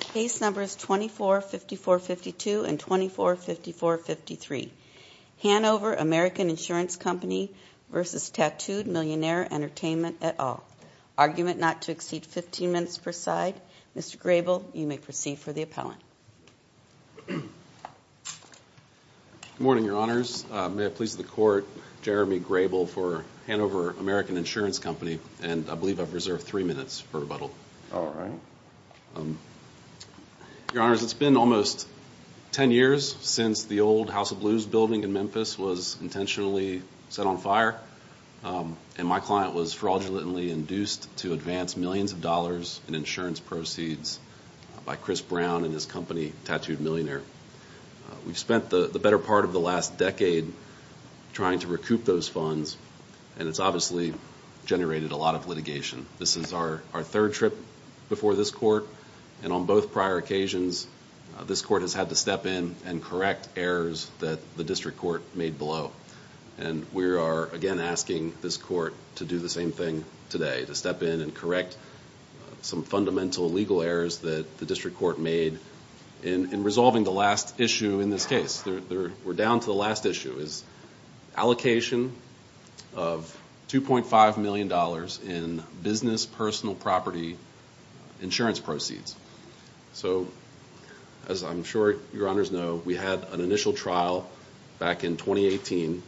Case Numbers 24-54-52 and 24-54-53 Hanover American Insurance Company v. Tattooed Millionaire Entertainment et al. Argument not to exceed 15 minutes per side. Mr. Grable, you may proceed for the appellant. Good morning, Your Honors. May it please the Court, Jeremy Grable for Hanover American Insurance Company, and I believe I've reserved three minutes for rebuttal. All right. Your Honors, it's been almost ten years since the old House of Blues building in Memphis was intentionally set on fire, and my client was fraudulently induced to advance millions of dollars in insurance proceeds by Chris Brown and his company, Tattooed Millionaire. We've spent the better part of the last decade trying to recoup those funds, and it's obviously generated a lot of litigation. This is our third trip before this Court, and on both prior occasions, this Court has had to step in and correct errors that the District Court made below. And we are again asking this Court to do the same thing today, to step in and correct some fundamental legal errors that the District Court made in resolving the last issue, is allocation of $2.5 million in business personal property insurance proceeds. So as I'm sure Your Honors know, we had an initial trial back in 2018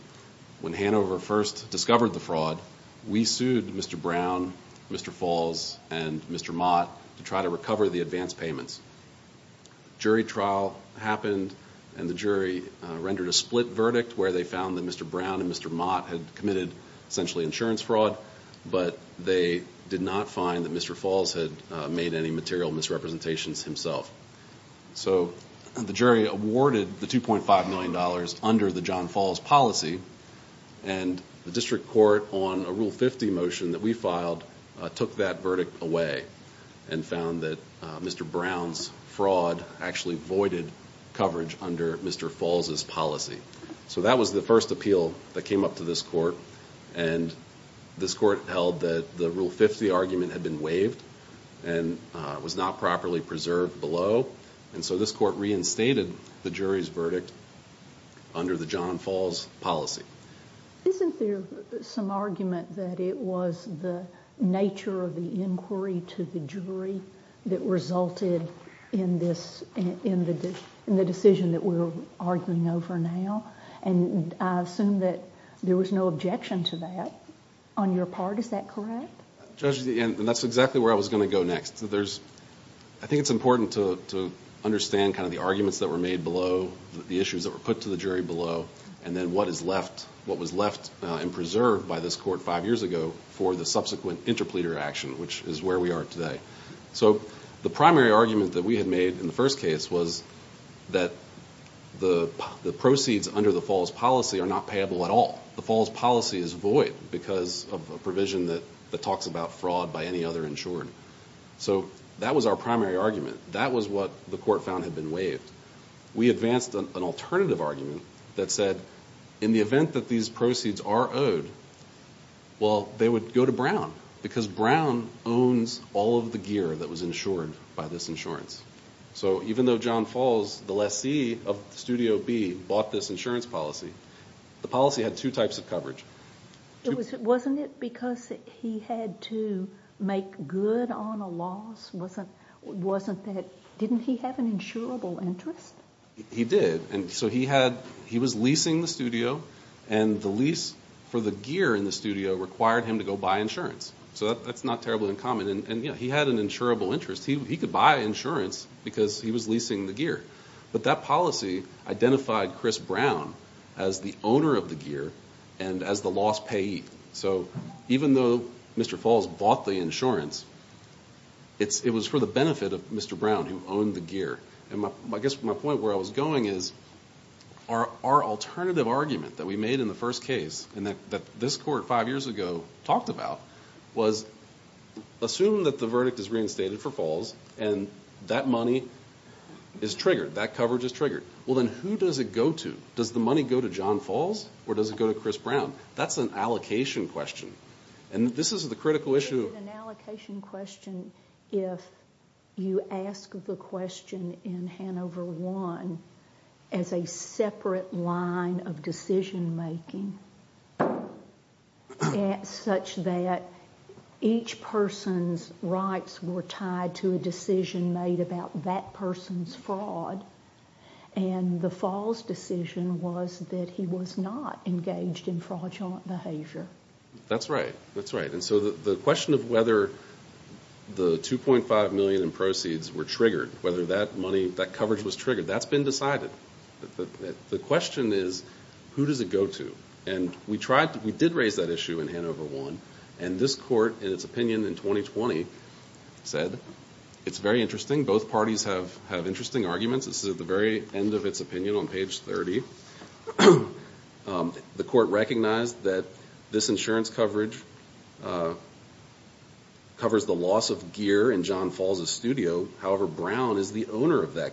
when Hanover first discovered the fraud. We sued Mr. Brown, Mr. Falls, and Mr. Mott to try to recover the insurance payments. Jury trial happened, and the jury rendered a split verdict where they found that Mr. Brown and Mr. Mott had committed essentially insurance fraud, but they did not find that Mr. Falls had made any material misrepresentations himself. So the jury awarded the $2.5 million under the John Falls policy, and the District Court on a Rule 50 motion that we filed took that verdict away and found that Mr. Brown's fraud actually voided coverage under Mr. Falls' policy. So that was the first appeal that came up to this Court, and this Court held that the Rule 50 argument had been waived and was not properly preserved below, and so this Court reinstated the jury's verdict under the John Falls policy. Isn't there some argument that it was the nature of the inquiry to the jury that resulted in this, in the decision that we're arguing over now? And I assume that there was no objection to that on your part, is that correct? Judge, and that's exactly where I was going to go next. I think it's important to understand kind of the arguments that were made below, the issues that were put to the jury below, and then what is left, what was left and preserved by this Court five years ago for the subsequent interpleader action, which is where we are today. So the primary argument that we had made in the first case was that the proceeds under the Falls policy are not payable at all. The Falls policy is void because of a provision that talks about fraud by any other insured. So that was our primary argument. That was what the Court found had been waived. We advanced an alternative argument that said in the event that these proceeds are owed, well, they would go to Brown because Brown owns all of the gear that was insured by this insurance. So even though John Falls, the lessee of Studio B, bought this insurance policy, the policy had two types of coverage. Wasn't it because he had to make good on a loss? Didn't he have an insurable interest? He did. So he was leasing the studio and the lease for the gear in the studio required him to go buy insurance. So that's not terribly uncommon. And he had an insurable interest. He could buy insurance because he was leasing the gear. But that policy identified Chris Brown as the owner of the gear and as the loss payee. So even though Mr. Falls bought the insurance, it was for the benefit of Mr. Brown who owned the gear. I guess my point where I was going is our alternative argument that we made in the first case and that this Court five years ago talked about was assume that the verdict is reinstated for Falls and that money is triggered, that coverage is triggered. Well, then who does it go to? Does the money go to John Falls or does it go to Chris Brown? That's an allocation question. And this is the critical issue. It would be an allocation question if you ask the question in Hanover I as a separate line of decision making such that each person's rights were tied to a decision made about that person's fraud and the Falls decision was that he was not engaged in fraudulent behavior. That's right. That's right. And so the question of whether the $2.5 million in proceeds were triggered, whether that money, that coverage was triggered, that's been decided. The question is who does it go to? And we did raise that issue in Hanover I. And this Court in its opinion in 2020 said, it's very interesting. Both parties have interesting arguments. This is at the very end of its opinion on page 30. The Court recognized that this insurance coverage covers the loss of gear in John Falls' studio. However, Brown is the owner of that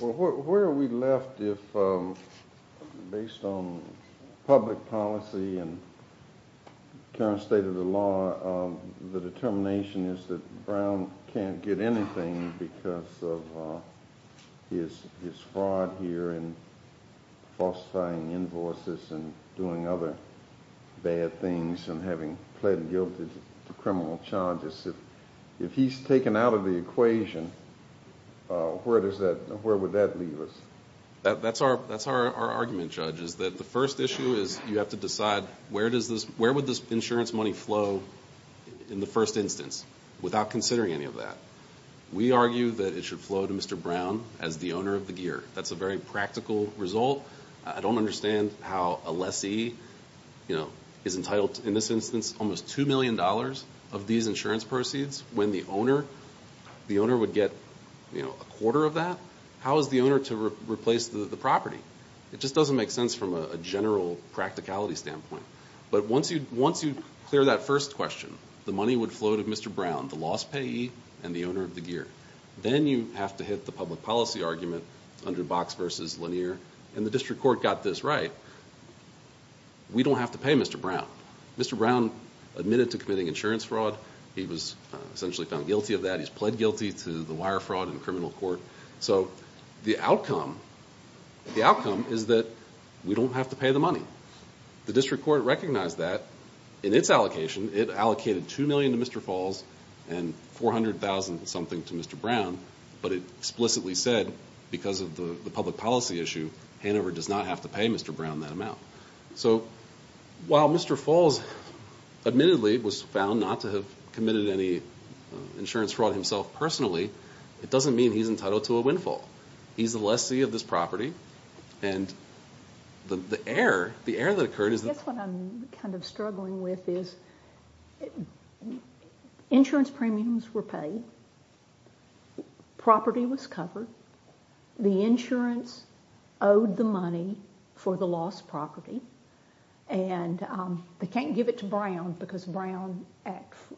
Well, where are we left if, based on public policy and current state of the law, the determination is that Brown can't get anything because of his fraud here and falsifying invoices and doing other bad things and having pled guilty to criminal charges. If he's taken out of the equation, where would that leave us? That's our argument, Judge, is that the first issue is you have to decide where would this insurance money flow in the first instance without considering any of that. We argue that it should flow to Mr. Brown as the owner of the gear. That's a very practical result. I don't understand how a lessee is entitled to, in this instance, almost $2 million of these insurance proceeds when the owner would get a quarter of that? How is the owner to replace the property? It just doesn't make sense from a general practicality standpoint. But once you clear that first question, the money would flow to Mr. Brown, the loss payee and the owner of the gear. Then you have to hit the public policy argument under Box v. Lanier, and the District Court got this right. We don't have to pay Mr. Brown. Mr. Brown admitted to committing insurance fraud. He was essentially found guilty of that. He's pled guilty to the wire fraud in a criminal court. The outcome is that we don't have to pay the money. The District Court recognized that in its allocation. It allocated $2 million to Mr. Falls and $400,000-something to Mr. Brown, but it explicitly said, because of the public policy issue, Hanover does not have to pay Mr. Brown that amount. So while Mr. Falls, admittedly, was found not to have committed any insurance fraud himself personally, it doesn't mean he's entitled to a windfall. He's a lessee of this property, and the error that occurred is that... I guess what I'm kind of struggling with is, insurance premiums were paid, property was paid for the lost property, and they can't give it to Brown because Brown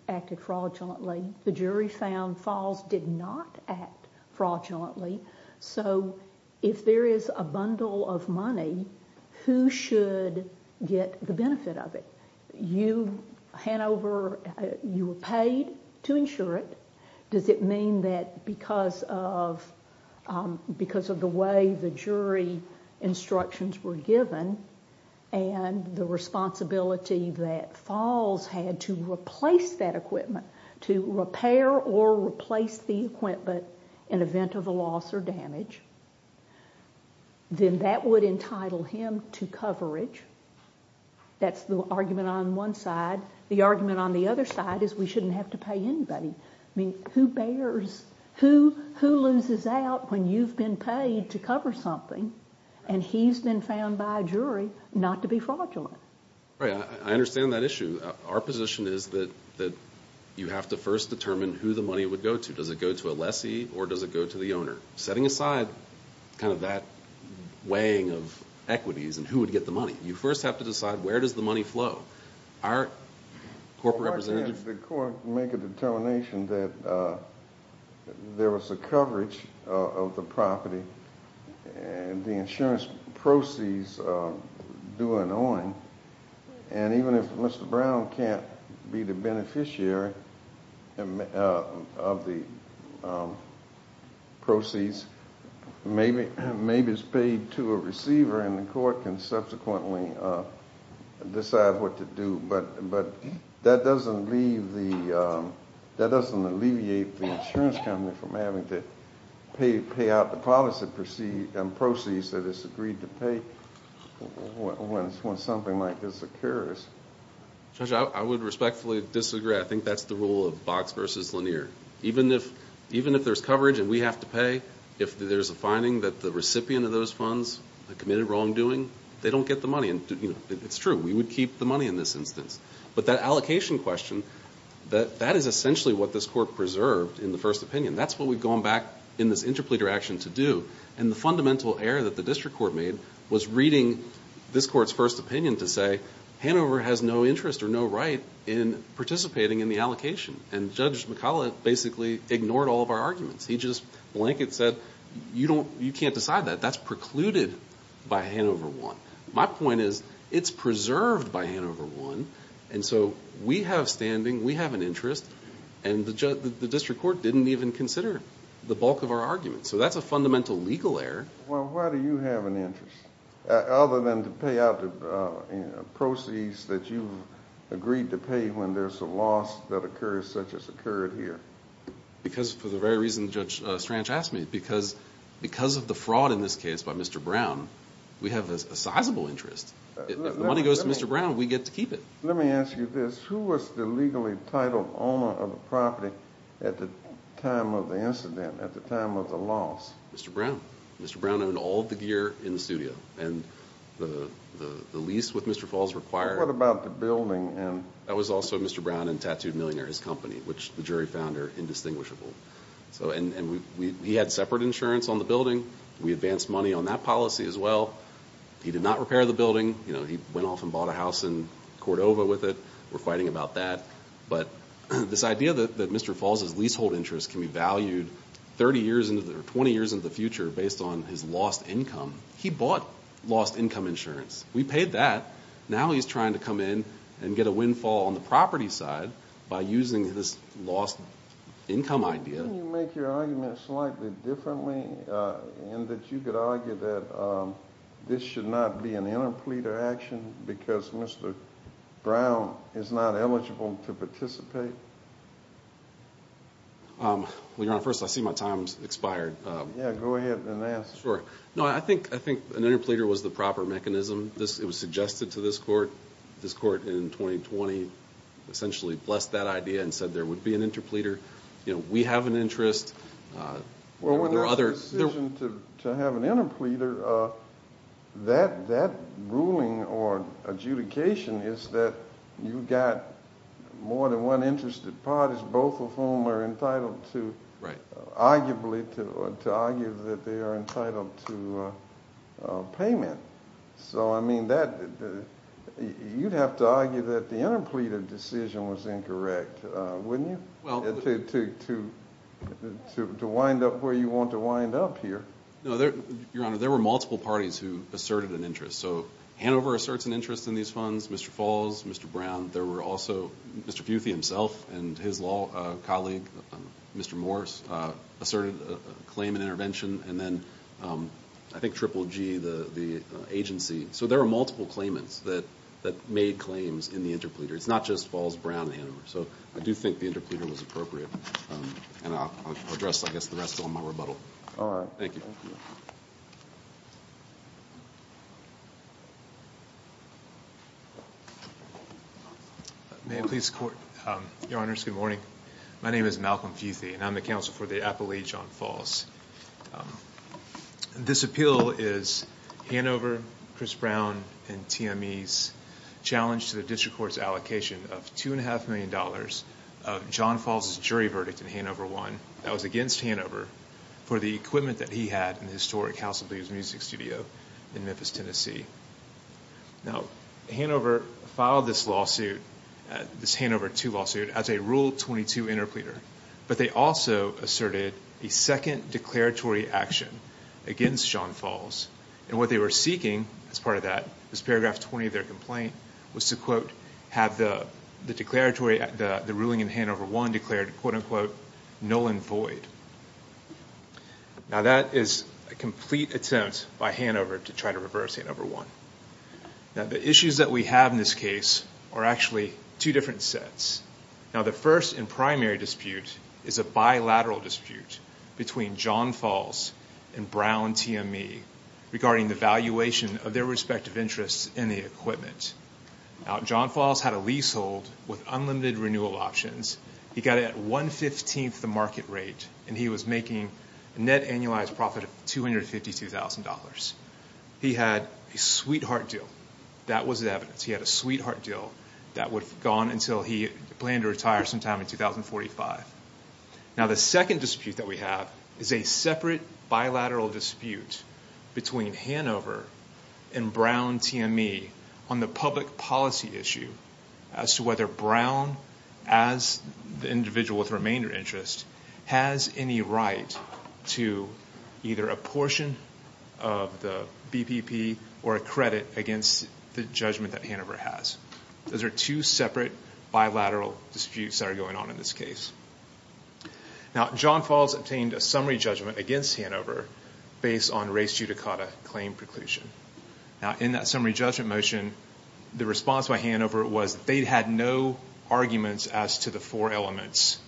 acted fraudulently. The jury found Falls did not act fraudulently, so if there is a bundle of money, who should get the benefit of it? You, Hanover, you were paid to insure it. Does it mean that because of the way the jury instructions were given, and the responsibility that Falls had to replace that equipment, to repair or replace the equipment in event of a loss or damage, then that would entitle him to coverage? That's the argument on one side. The argument on the other side is we shouldn't have to pay anybody. I mean, who bears, who loses out when you've been paid to cover something, and he's been found by a jury not to be fraudulent? Right. I understand that issue. Our position is that you have to first determine who the money would go to. Does it go to a lessee, or does it go to the owner? Setting aside kind of that weighing of equities and who would get the money, you first have to decide where does the money flow? Our corporate representatives... The court can make a determination that there was a coverage of the property, and the insurance proceeds do an owing, and even if Mr. Brown can't be the beneficiary of the proceeds, maybe it's paid to a receiver, and the court can subsequently decide what to do, but that doesn't alleviate the insurance company from having to pay out the policy proceeds that it's agreed to pay when something like this occurs. Judge, I would respectfully disagree. I think that's the rule of Box versus Lanier. Even if there's coverage and we have to pay, if there's a finding that the recipient of those funds committed wrongdoing, they don't get the money. It's true. We would keep the money in this instance, but that allocation question, that is essentially what this court preserved in the first opinion. That's what we've gone back in this interpleader action to do, and the fundamental error that the district court made was reading this court's first opinion to say, Hanover has no interest or no right in participating in the allocation, and Judge McCullough basically ignored all of our arguments. He just blanket said, you can't decide that. That's precluded by Hanover One. My point is, it's preserved by Hanover One, and so we have standing, we have an interest, and the district court didn't even consider the bulk of our arguments. So that's a fundamental legal error. Well, why do you have an interest, other than to pay out the proceeds that you've agreed to pay when there's a loss that occurs such as occurred here? Because for the very reason Judge Strange asked me, because of the fraud in this case by Mr. Brown, we have a sizable interest. If the money goes to Mr. Brown, we get to keep it. Let me ask you this. Who was the legally titled owner of the property at the time of the incident, at the time of the loss? Mr. Brown. Mr. Brown owned all of the gear in the studio, and the lease with Mr. Falls required... What about the building and... That was also Mr. Brown and Tattooed Millionaire, his company, which the jury found are indistinguishable. He had separate insurance on the building. We advanced money on that policy as well. He did not repair the building. He went off and bought a house in Cordova with it. We're fighting about that. But this idea that Mr. Falls' leasehold interest can be valued 30 years into the future, or 20 years into the future, based on his lost income, he bought lost income insurance. We paid that. Now he's trying to come in and get a windfall on the property side by using this lost income idea. Can you make your argument slightly differently, in that you could argue that this should not be an interpleader action because Mr. Brown is not eligible to participate? Well, Your Honor, first, I see my time's expired. Yeah, go ahead and ask. No, I think an interpleader was the proper mechanism. It was suggested to this court. This court in 2020 essentially blessed that idea and said there would be an interpleader. We have an interest. Well, when there's a decision to have an interpleader, that ruling or adjudication is that you've got more than one interested parties, both of whom are entitled to, arguably, to argue that they are entitled to payment. So, I mean, you'd have to argue that the interpleader decision was incorrect, wouldn't you? To wind up where you want to wind up here. No, Your Honor, there were multiple parties who asserted an interest. So, Hanover asserts an interest in these funds, Mr. Falls, Mr. Brown. There were also Mr. Futhi himself and his law colleague, Mr. Morris, asserted a claim in intervention. And then I think Triple G, the agency. So, there were multiple claimants that made claims in the interpleader. It's not just Falls, Brown, Hanover. So, I do think the interpleader was appropriate. And I'll address, I guess, the rest on my rebuttal. All right. Thank you. May I please court? Your Honors, good morning. My name is Malcolm Futhi, and I'm the counsel for the appellee, John Falls. This appeal is Hanover, Chris Brown, and TME's challenge to the district court's allocation of $2.5 million of John Falls' jury verdict in Hanover 1 that was against Hanover for the equipment that he had in the historic House of Blues Music Studio in Memphis, Tennessee. Now, Hanover filed this lawsuit, this Hanover 2 lawsuit, as a Rule 22 interpleader. But they also asserted a second declaratory action against John Falls. And what they were seeking as part of that, this paragraph 20 of their complaint, was to, quote, have the ruling in Hanover 1 declared, quote, unquote, null and void. Now, that is a complete attempt by Hanover to try to reverse Hanover 1. Now, the issues that we have in this case are actually two different sets. Now, the first and primary dispute is a bilateral dispute between John Falls and Brown TME regarding the valuation of their respective interests in the equipment. Now, John Falls had a lease hold with unlimited renewal options. He got it at 115th the market rate, and he was making a net annualized profit of $252,000. He had a sweetheart deal. That was evidence. He had a sweetheart deal that would have gone until he planned to retire sometime in 2045. Now, the second dispute that we have is a separate bilateral dispute between Hanover and Brown TME on the public policy issue as to whether Brown, as the individual with remainder interest, has any right to either a portion of the BPP or a credit against the judgment that Hanover has. Those are two separate bilateral disputes that are going on in this case. Now, John Falls obtained a summary judgment against Hanover based on race judicata claim preclusion. Now, in that summary judgment motion, the response by Hanover was they had no arguments as to the four elements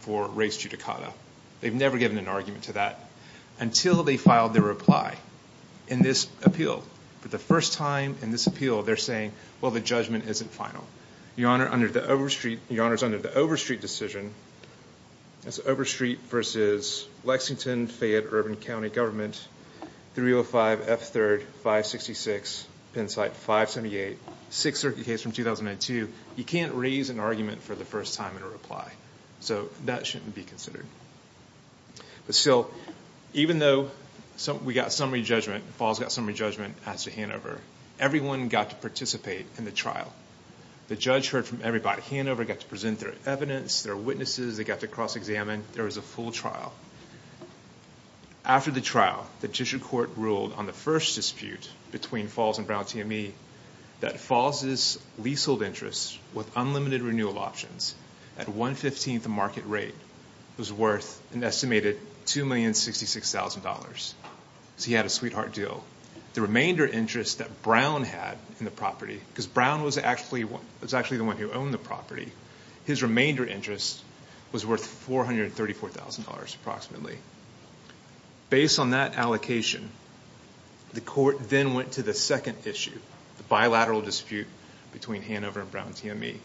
for race judicata. They've never given an argument to that until they filed their reply in this appeal. But the first time in this appeal, they're saying, well, the judgment isn't final. Your Honor, under the Overstreet decision, that's Overstreet versus Lexington Fayette Urban County Government, 305 F3rd 566, Pennsite 578, Sixth Circuit case from 2002, you can't raise an argument for the first time in a reply. So that shouldn't be considered. But still, even though we got summary judgment, Falls got summary judgment as to Hanover, everyone got to participate in the trial. The judge heard from everybody. Hanover got to present their evidence, their witnesses. They got to cross-examine. There was a full trial. After the trial, the district court ruled on the first dispute between Falls and Brown TME that Falls' leasehold interest with unlimited remainder interest that Brown had in the property, because Brown was actually the one who owned the property, his remainder interest was worth $434,000 approximately. Based on that allocation, the court then went to the second issue, the bilateral dispute between Hanover and Brown TME.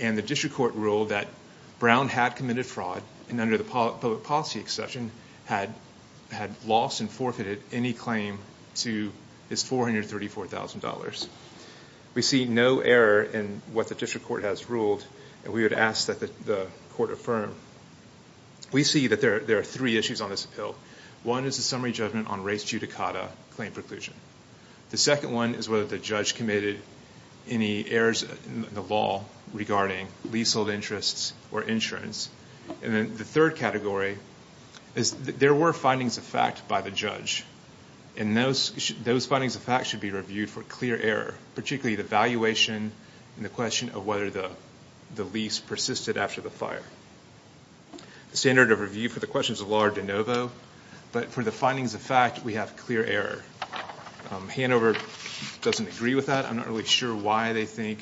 And the district court ruled that Brown had committed fraud and under the public policy exception had lost and forfeited any claim to his $434,000. We see no error in what the district court has ruled, and we would ask that the court affirm. We see that there are three issues on this appeal. One is the summary judgment on race judicata claim preclusion. The second one is whether the judge committed any errors in the law regarding leasehold interests or insurance. And then the third category is there were findings of fact by the judge, and those findings of fact should be reviewed for clear error, particularly the valuation and the question of whether the lease persisted after the fire. The standard of review for the question is a large de novo, but for the findings of fact, we have clear error. Hanover doesn't agree with that. I'm not really sure why they think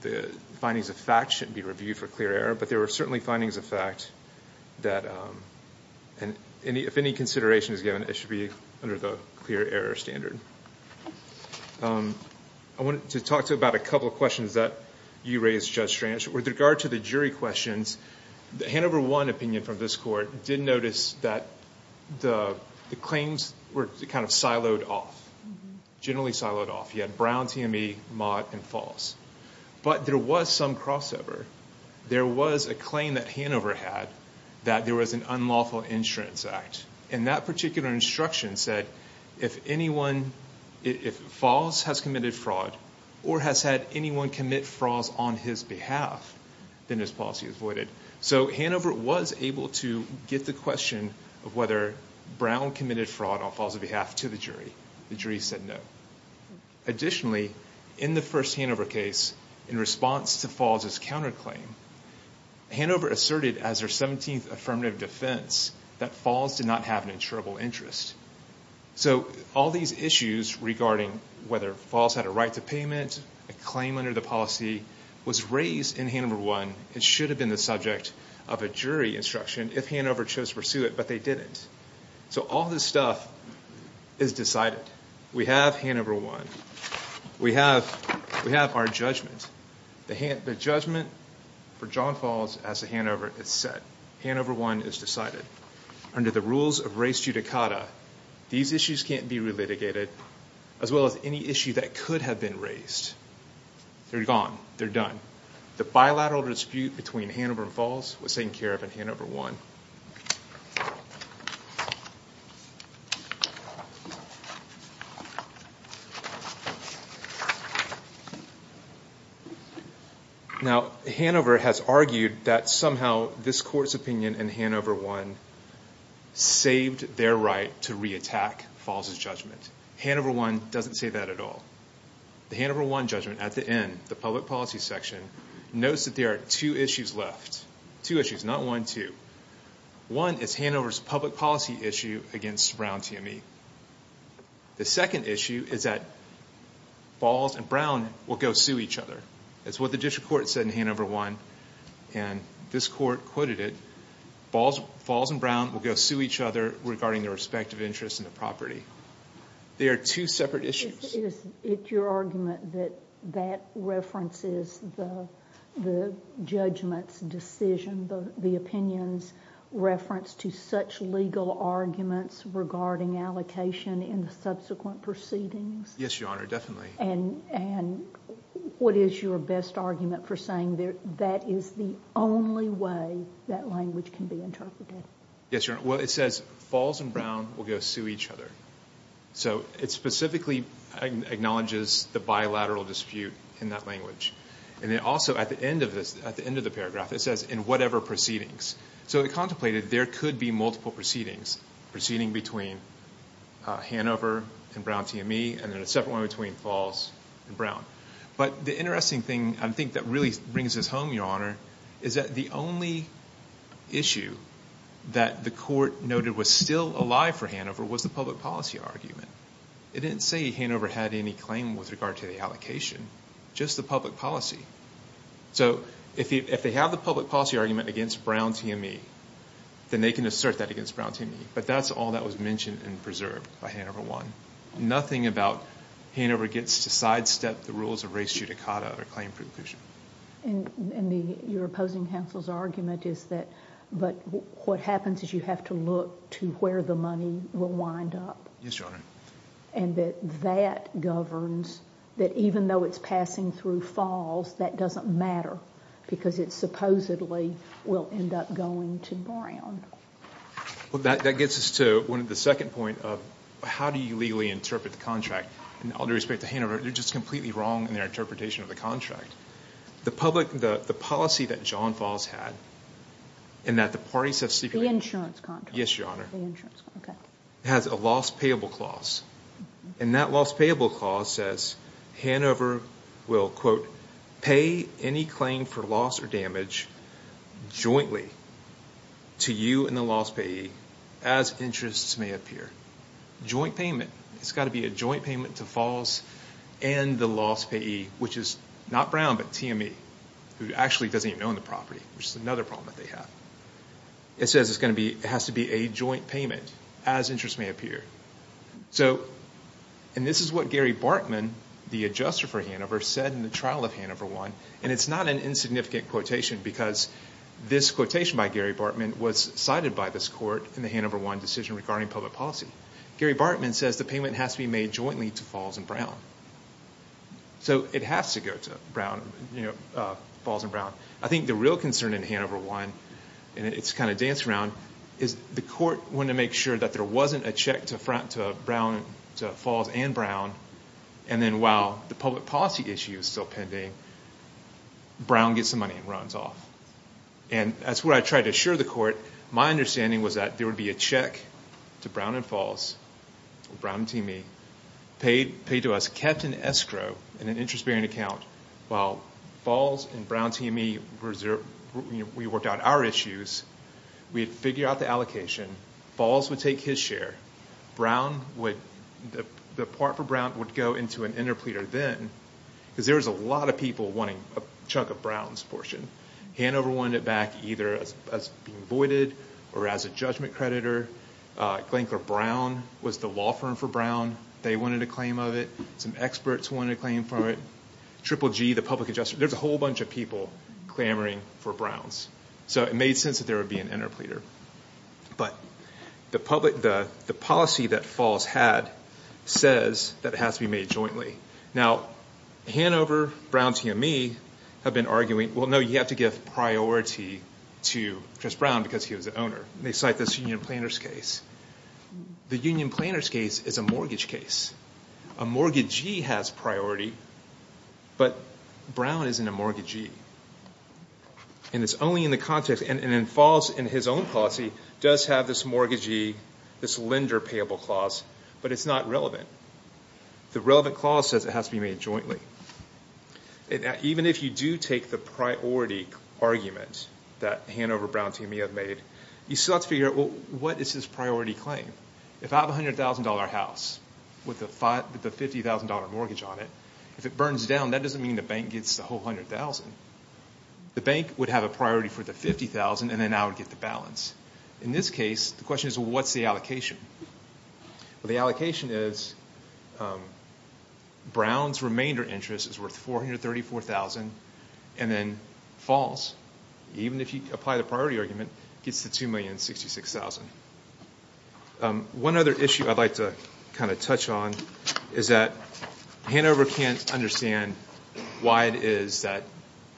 the findings of fact should be reviewed for clear error, but there were certainly findings of fact that if any consideration is given, it should be under the clear error standard. I wanted to talk to you about a couple of questions that you raised, Judge Stranch. With regard to the jury questions, the Hanover 1 opinion from this court did notice that the claims were kind of siloed off, generally siloed off. You had Brown TME, Mott, and Falls. But there was some crossover. There was a claim that Hanover had that there was an unlawful insurance act, and that particular instruction said if Falls has committed fraud or has had anyone commit fraud on his behalf, then his policy is voided. So Hanover was able to get the question of whether Brown committed fraud on Falls' behalf to the jury. The jury said no. Additionally, in the first Hanover case, in response to Falls' counterclaim, Hanover asserted as their 17th affirmative defense that Falls did not have an insurable interest. So all these issues regarding whether Falls had a right to payment, a claim under the policy, was raised in Hanover 1. It should have been the subject of a jury instruction if Hanover chose to pursue it, but they didn't. So all this stuff is decided. We have Hanover 1. We have our judgment. The judgment for John Falls as to Hanover is set. Hanover 1 is decided. Under the rules of res judicata, these issues can't be relitigated, as well as any issue that could have been raised. They're gone. They're done. The bilateral dispute between Hanover and Falls was taken care of in Hanover 1. Now, Hanover has argued that somehow this court's opinion in Hanover 1 saved their right to re-attack Falls' judgment. Hanover 1 doesn't say that at all. The Hanover 1 judgment, at the end, the public policy section, notes that there are two issues left. Two issues, not one, two. One is Hanover's public policy issue against Brown TME. The second issue is that Falls and Brown will go sue each other. That's what the district court said in Hanover 1, and this court quoted it. Falls and Brown will go sue each other regarding their respective interests in the property. They are two separate issues. Is it your argument that that references the judgment's decision, the opinion's reference to such legal arguments regarding allocation in the subsequent proceedings? Yes, Your Honor, definitely. What is your best argument for saying that is the only way that language can be used? It says Falls and Brown will go sue each other. It specifically acknowledges the bilateral dispute in that language. Also, at the end of the paragraph, it says, in whatever proceedings. It contemplated there could be multiple proceedings, proceeding between Hanover and Brown TME, and then a separate one between Falls and Brown. The interesting thing, I think, that really brings us home, Your Honor, is that the only issue that the court noted was still alive for Hanover was the public policy argument. It didn't say Hanover had any claim with regard to the allocation, just the public policy. So if they have the public policy argument against Brown TME, then they can assert that against Brown TME. But that's all that was mentioned and preserved by Hanover 1. Nothing about Hanover gets to sidestep the rules of res judicata or claim preclusion. And your opposing counsel's argument is that what happens is you have to look to where the money will wind up. Yes, Your Honor. And that that governs that even though it's passing through Falls, that doesn't matter because it supposedly will end up going to Brown. Well, that gets us to the second point of how do you legally interpret the contract? And all due respect to Hanover, you're just completely wrong in their interpretation of the contract. The public, the policy that John Falls had and that the parties have... The insurance contract. Yes, Your Honor. Okay. Has a loss payable clause. And that loss payable clause says Hanover will, quote, pay any claim for loss or damage jointly to you and the loss payee as interests may appear. Joint payment. It's got to be a joint payment to Falls and the loss payee, which is not Brown, but TME, who actually doesn't even own the property, which is another problem that they have. It says it's going to be, it has to be a joint payment as interests may appear. So, and this is what Gary Bartman, the adjuster for Hanover, said in the trial of Hanover 1. And it's not an insignificant quotation because this quotation by Gary Bartman was cited by this court in the Hanover 1 decision regarding public policy. Gary Bartman says the payment has to be made jointly to Falls and Brown. So it has to go to Brown, you know, Falls and Brown. I think the real concern in Hanover 1, and it's kind of danced around, is the court wanted to make sure that there wasn't a check to Brown, to Falls and Brown. And then while the public policy issue is still pending, Brown gets the money and runs off. And that's what I tried to assure the court. My understanding was that there would be a check to Brown and Falls, Brown and TME, paid to us, kept in escrow in an interest bearing account, while Falls and Brown TME, we worked out our issues, we'd figure out the allocation, Falls would take his share, Brown would, the part for Brown would go into an interpleader then, because there was a lot of people wanting a chunk of Brown's portion. Hanover wanted it back either as being voided or as a judgment creditor. Glencore Brown was the law firm for Brown, they wanted a claim of it. Some experts wanted a claim for it. Triple G, the public adjuster, there's a whole bunch of people clamoring for Brown's. So it made sense that there would be an interpleader. But the public, the policy that Falls had says that it has to be made jointly. Now, Hanover, Brown TME, have been arguing, well no, you have to give priority to Chris Brown because he was the owner. They cite this union planner's case. The union planner's case is a mortgage case. A mortgagee has priority, but Brown isn't a mortgagee. And it's only in the context, and then Falls, in his own policy, does have this mortgagee, this lender payable clause, but it's not relevant. The relevant clause says it has to be made jointly. Even if you do take the priority argument that Hanover, Brown TME have made, you still have to figure out, well, what is his priority claim? If I have a $100,000 house with a $50,000 mortgage on it, if it burns down, that doesn't mean the bank gets the whole $100,000. The bank would have a priority for the $50,000 and then I would get the balance. In this case, the question is, well, what's the allocation? Well, the allocation is Brown's remainder interest is worth $434,000 and then Falls, even if you apply the priority argument, gets the $2,066,000. One other issue I'd like to kind of touch on is that Hanover can't understand why it is that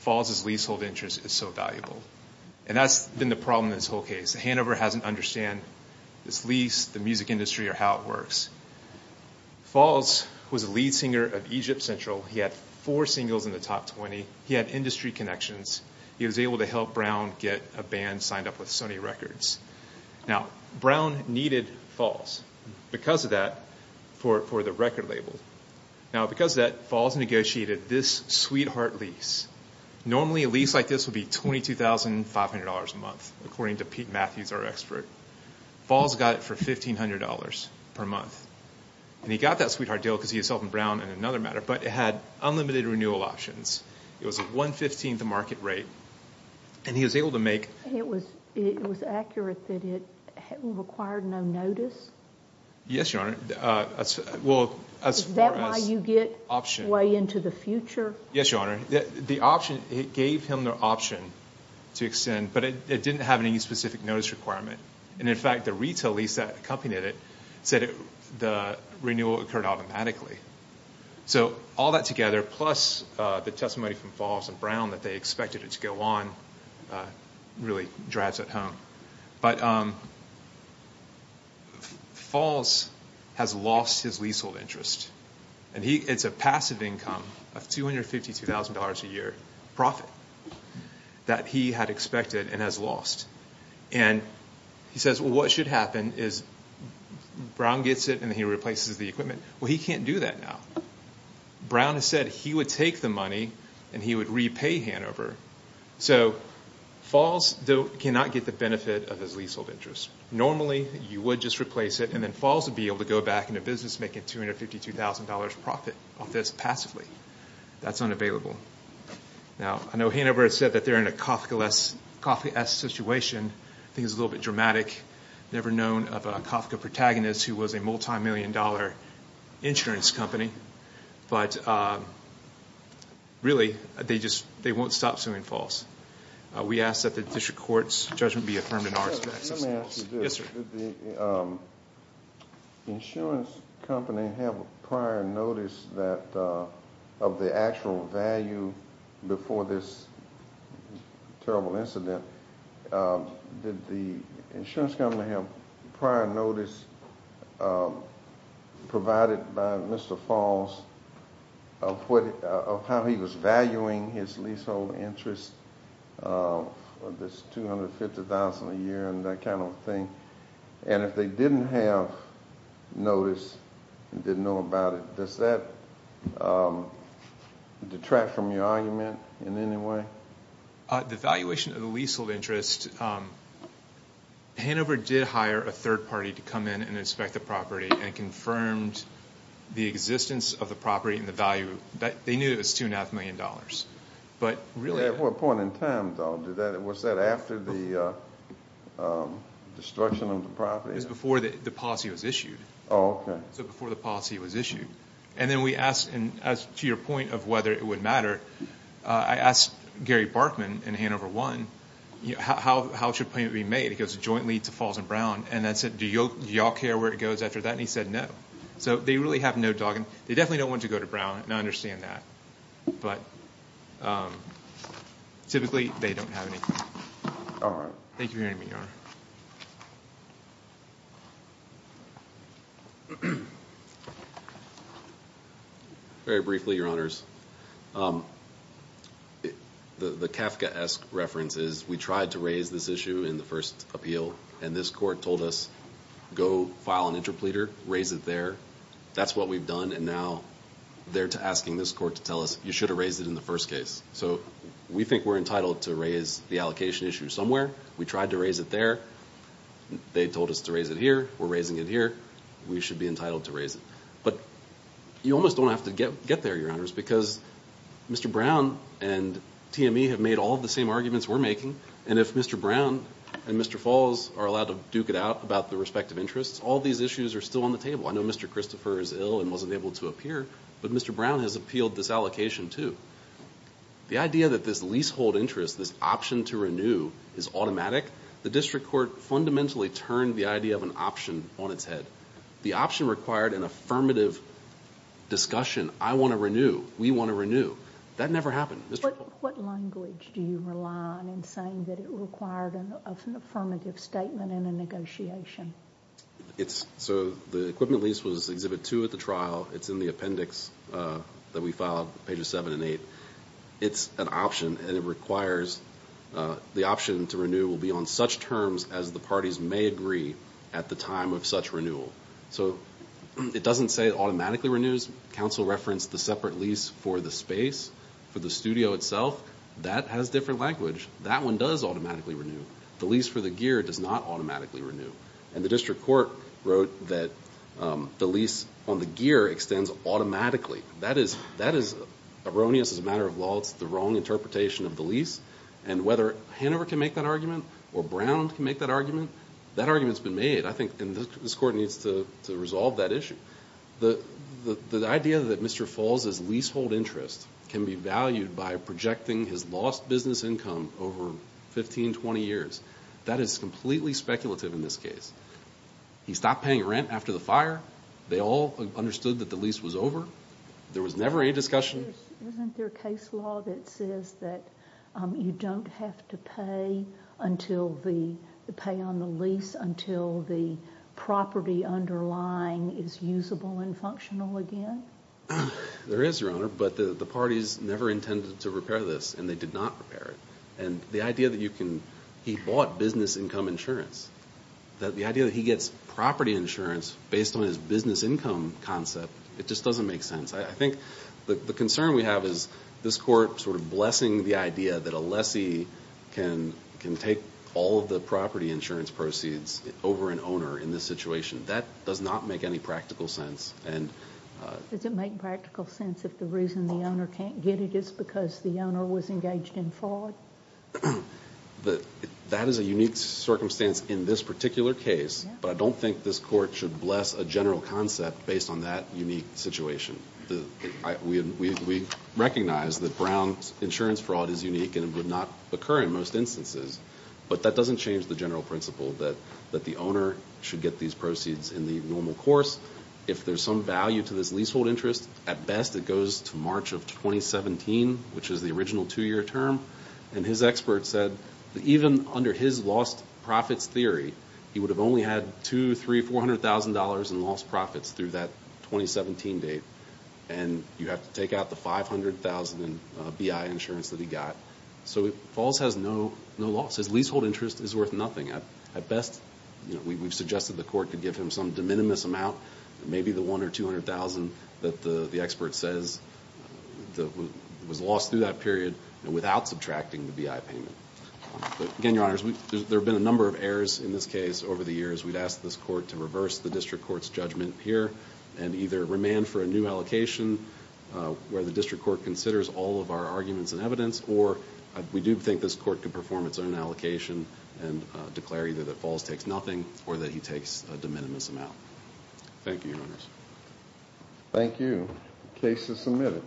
Falls' leasehold interest is so valuable. And that's been the problem in this whole case. Hanover doesn't understand this lease, the music industry, or how it works. Falls was a lead singer of Egypt Central. He had four singles in the top 20. He had industry connections. He was able to help Brown get a band signed up with Sony Records. Now, Brown needed Falls because of that for the record label. Now, because of that, Falls negotiated this sweetheart lease. Normally, a lease like this would be $22,500 a month, according to Pete Matthews, our expert. Falls got it for $1,500 per month. And he got that sweetheart deal because he was helping Brown in another matter, but it had unlimited renewal options. It was a one-fifteenth market rate and he was able to make— And it was accurate that it required no notice? Yes, Your Honor. Is that why you get way into the future? Yes, Your Honor. The option, it gave him the option to extend, but it didn't have any specific notice requirement. And in fact, the retail lease that accompanied it said the renewal occurred automatically. So all that together, plus the testimony from Falls and Brown that they expected it to go on, really drives it home. But Falls has lost his leasehold interest. And it's a passive income of $252,000 a year profit. That he had expected and has lost. And he says, well, what should happen is Brown gets it and he replaces the equipment. Well, he can't do that now. Brown has said he would take the money and he would repay Hanover. So Falls cannot get the benefit of his leasehold interest. Normally, you would just replace it and then Falls would be able to go back into business making $252,000 profit off this passively. That's unavailable. Now, I know Hanover has said that they're in a Kafka-esque situation. I think it's a little bit dramatic. Never known of a Kafka protagonist who was a multi-million dollar insurance company. But really, they won't stop suing Falls. We ask that the district court's judgment be affirmed in our respect. Let me ask you this. Did the insurance company have a prior notice of the actual value before this terrible incident? Did the insurance company have prior notice provided by Mr. Falls of how he was valuing his leasehold interest for this $250,000 a year and that kind of thing? And if they didn't have notice and didn't know about it, does that detract from your argument in any way? The valuation of the leasehold interest, Hanover did hire a third party to come in and inspect the property and confirmed the existence of the property and the value. They knew it was $2.5 million. At what point in time, though? Was that after the destruction of the property? It was before the policy was issued. And then we asked, and to your point of whether it would matter, I asked Gary Barkman in Hanover 1, how should payment be made? It goes jointly to Falls and Brown. And I said, do you all care where it goes after that? And he said, no. So they really have no dogging. They definitely don't want to go to Brown, and I understand that. But typically, they don't have anything. All right. Thank you for hearing me, Your Honor. Very briefly, Your Honors. The Kafka-esque reference is we tried to raise this issue in the first appeal, and this court told us, go file an interpleader, raise it there. That's what we've done, and now they're asking this court to tell us, you should have raised it in the first case. So we think we're entitled to raise the allocation issue somewhere. We tried to raise it there. They told us to raise it here. We're raising it here. We should be entitled to raise it. But you almost don't have to get there, Your Honors, because Mr. Brown and TME have made all of the same arguments we're making. And if Mr. Brown and Mr. Falls are allowed to duke it out about their respective interests, all these issues are still on the table. I know Mr. Christopher is ill and wasn't able to appear, but Mr. Brown has appealed this allocation, too. The idea that this leasehold interest, this option to renew, is automatic, the district court fundamentally turned the idea of an option on its head. The option required an affirmative discussion. I want to renew. We want to renew. That never happened. What language do you rely on in saying that it required an affirmative statement and a negotiation? So the equipment lease was Exhibit 2 at the trial. It's in the appendix that we filed, pages 7 and 8. It's an option, and it requires the option to renew will be on such terms as the parties may agree at the time of such renewal. So it doesn't say it automatically renews. Counsel referenced the separate lease for the space, for the studio itself. That has different language. That one does automatically renew. The lease for the gear does not automatically renew, and the district court wrote that the lease on the gear extends automatically. That is erroneous as a matter of law. It's the wrong interpretation of the lease, and whether Hanover can make that argument or Brown can make that argument, that argument's been made. I think this court needs to resolve that issue. The idea that Mr. Falls' leasehold interest can be valued by projecting his lost business income over 15, 20 years, that is completely speculative in this case. He stopped paying rent after the fire. They all understood that the lease was over. There was never any discussion. Isn't there a case law that says that you don't have to pay until the pay on the lease until the property underlying is usable and functional again? There is, Your Honor, but the parties never intended to repair this, and they did not repair it. The idea that he bought business income insurance, the idea that he gets property insurance based on his business income concept, it just doesn't make sense. I think the concern we have is this court blessing the idea that a lessee can take all of the property insurance proceeds over an owner in this situation. That does not make any practical sense. Does it make practical sense if the reason the owner can't get it is because the owner was engaged in fraud? That is a unique circumstance in this particular case, but I don't think this court should bless a general concept based on that unique situation. We recognize that Brown's insurance fraud is unique and would not occur in most instances, but that doesn't change the general principle that the owner should get these proceeds in the normal course. If there's some value to this leasehold interest, at best it goes to March of 2017, which is the original two-year term. His expert said that even under his lost profits theory, he would have only had $200,000, $300,000, $400,000 in lost profits through that 2017 date. You have to take out the $500,000 in BI insurance that he got. Falls has no loss. His leasehold interest is worth nothing. At best, we've suggested the court could give him some de minimis amount, maybe the $100,000 or $200,000 that the expert says was lost through that period without subtracting the BI payment. Again, Your Honors, there have been a number of errors in this case over the years. We'd ask this court to reverse the district court's judgment here and either remand for a new allocation where the district court considers all of our arguments and evidence, or we do think this court could perform its own allocation and declare either that Falls takes nothing or that he takes a de minimis amount. Thank you, Your Honors. Thank you. Case is submitted.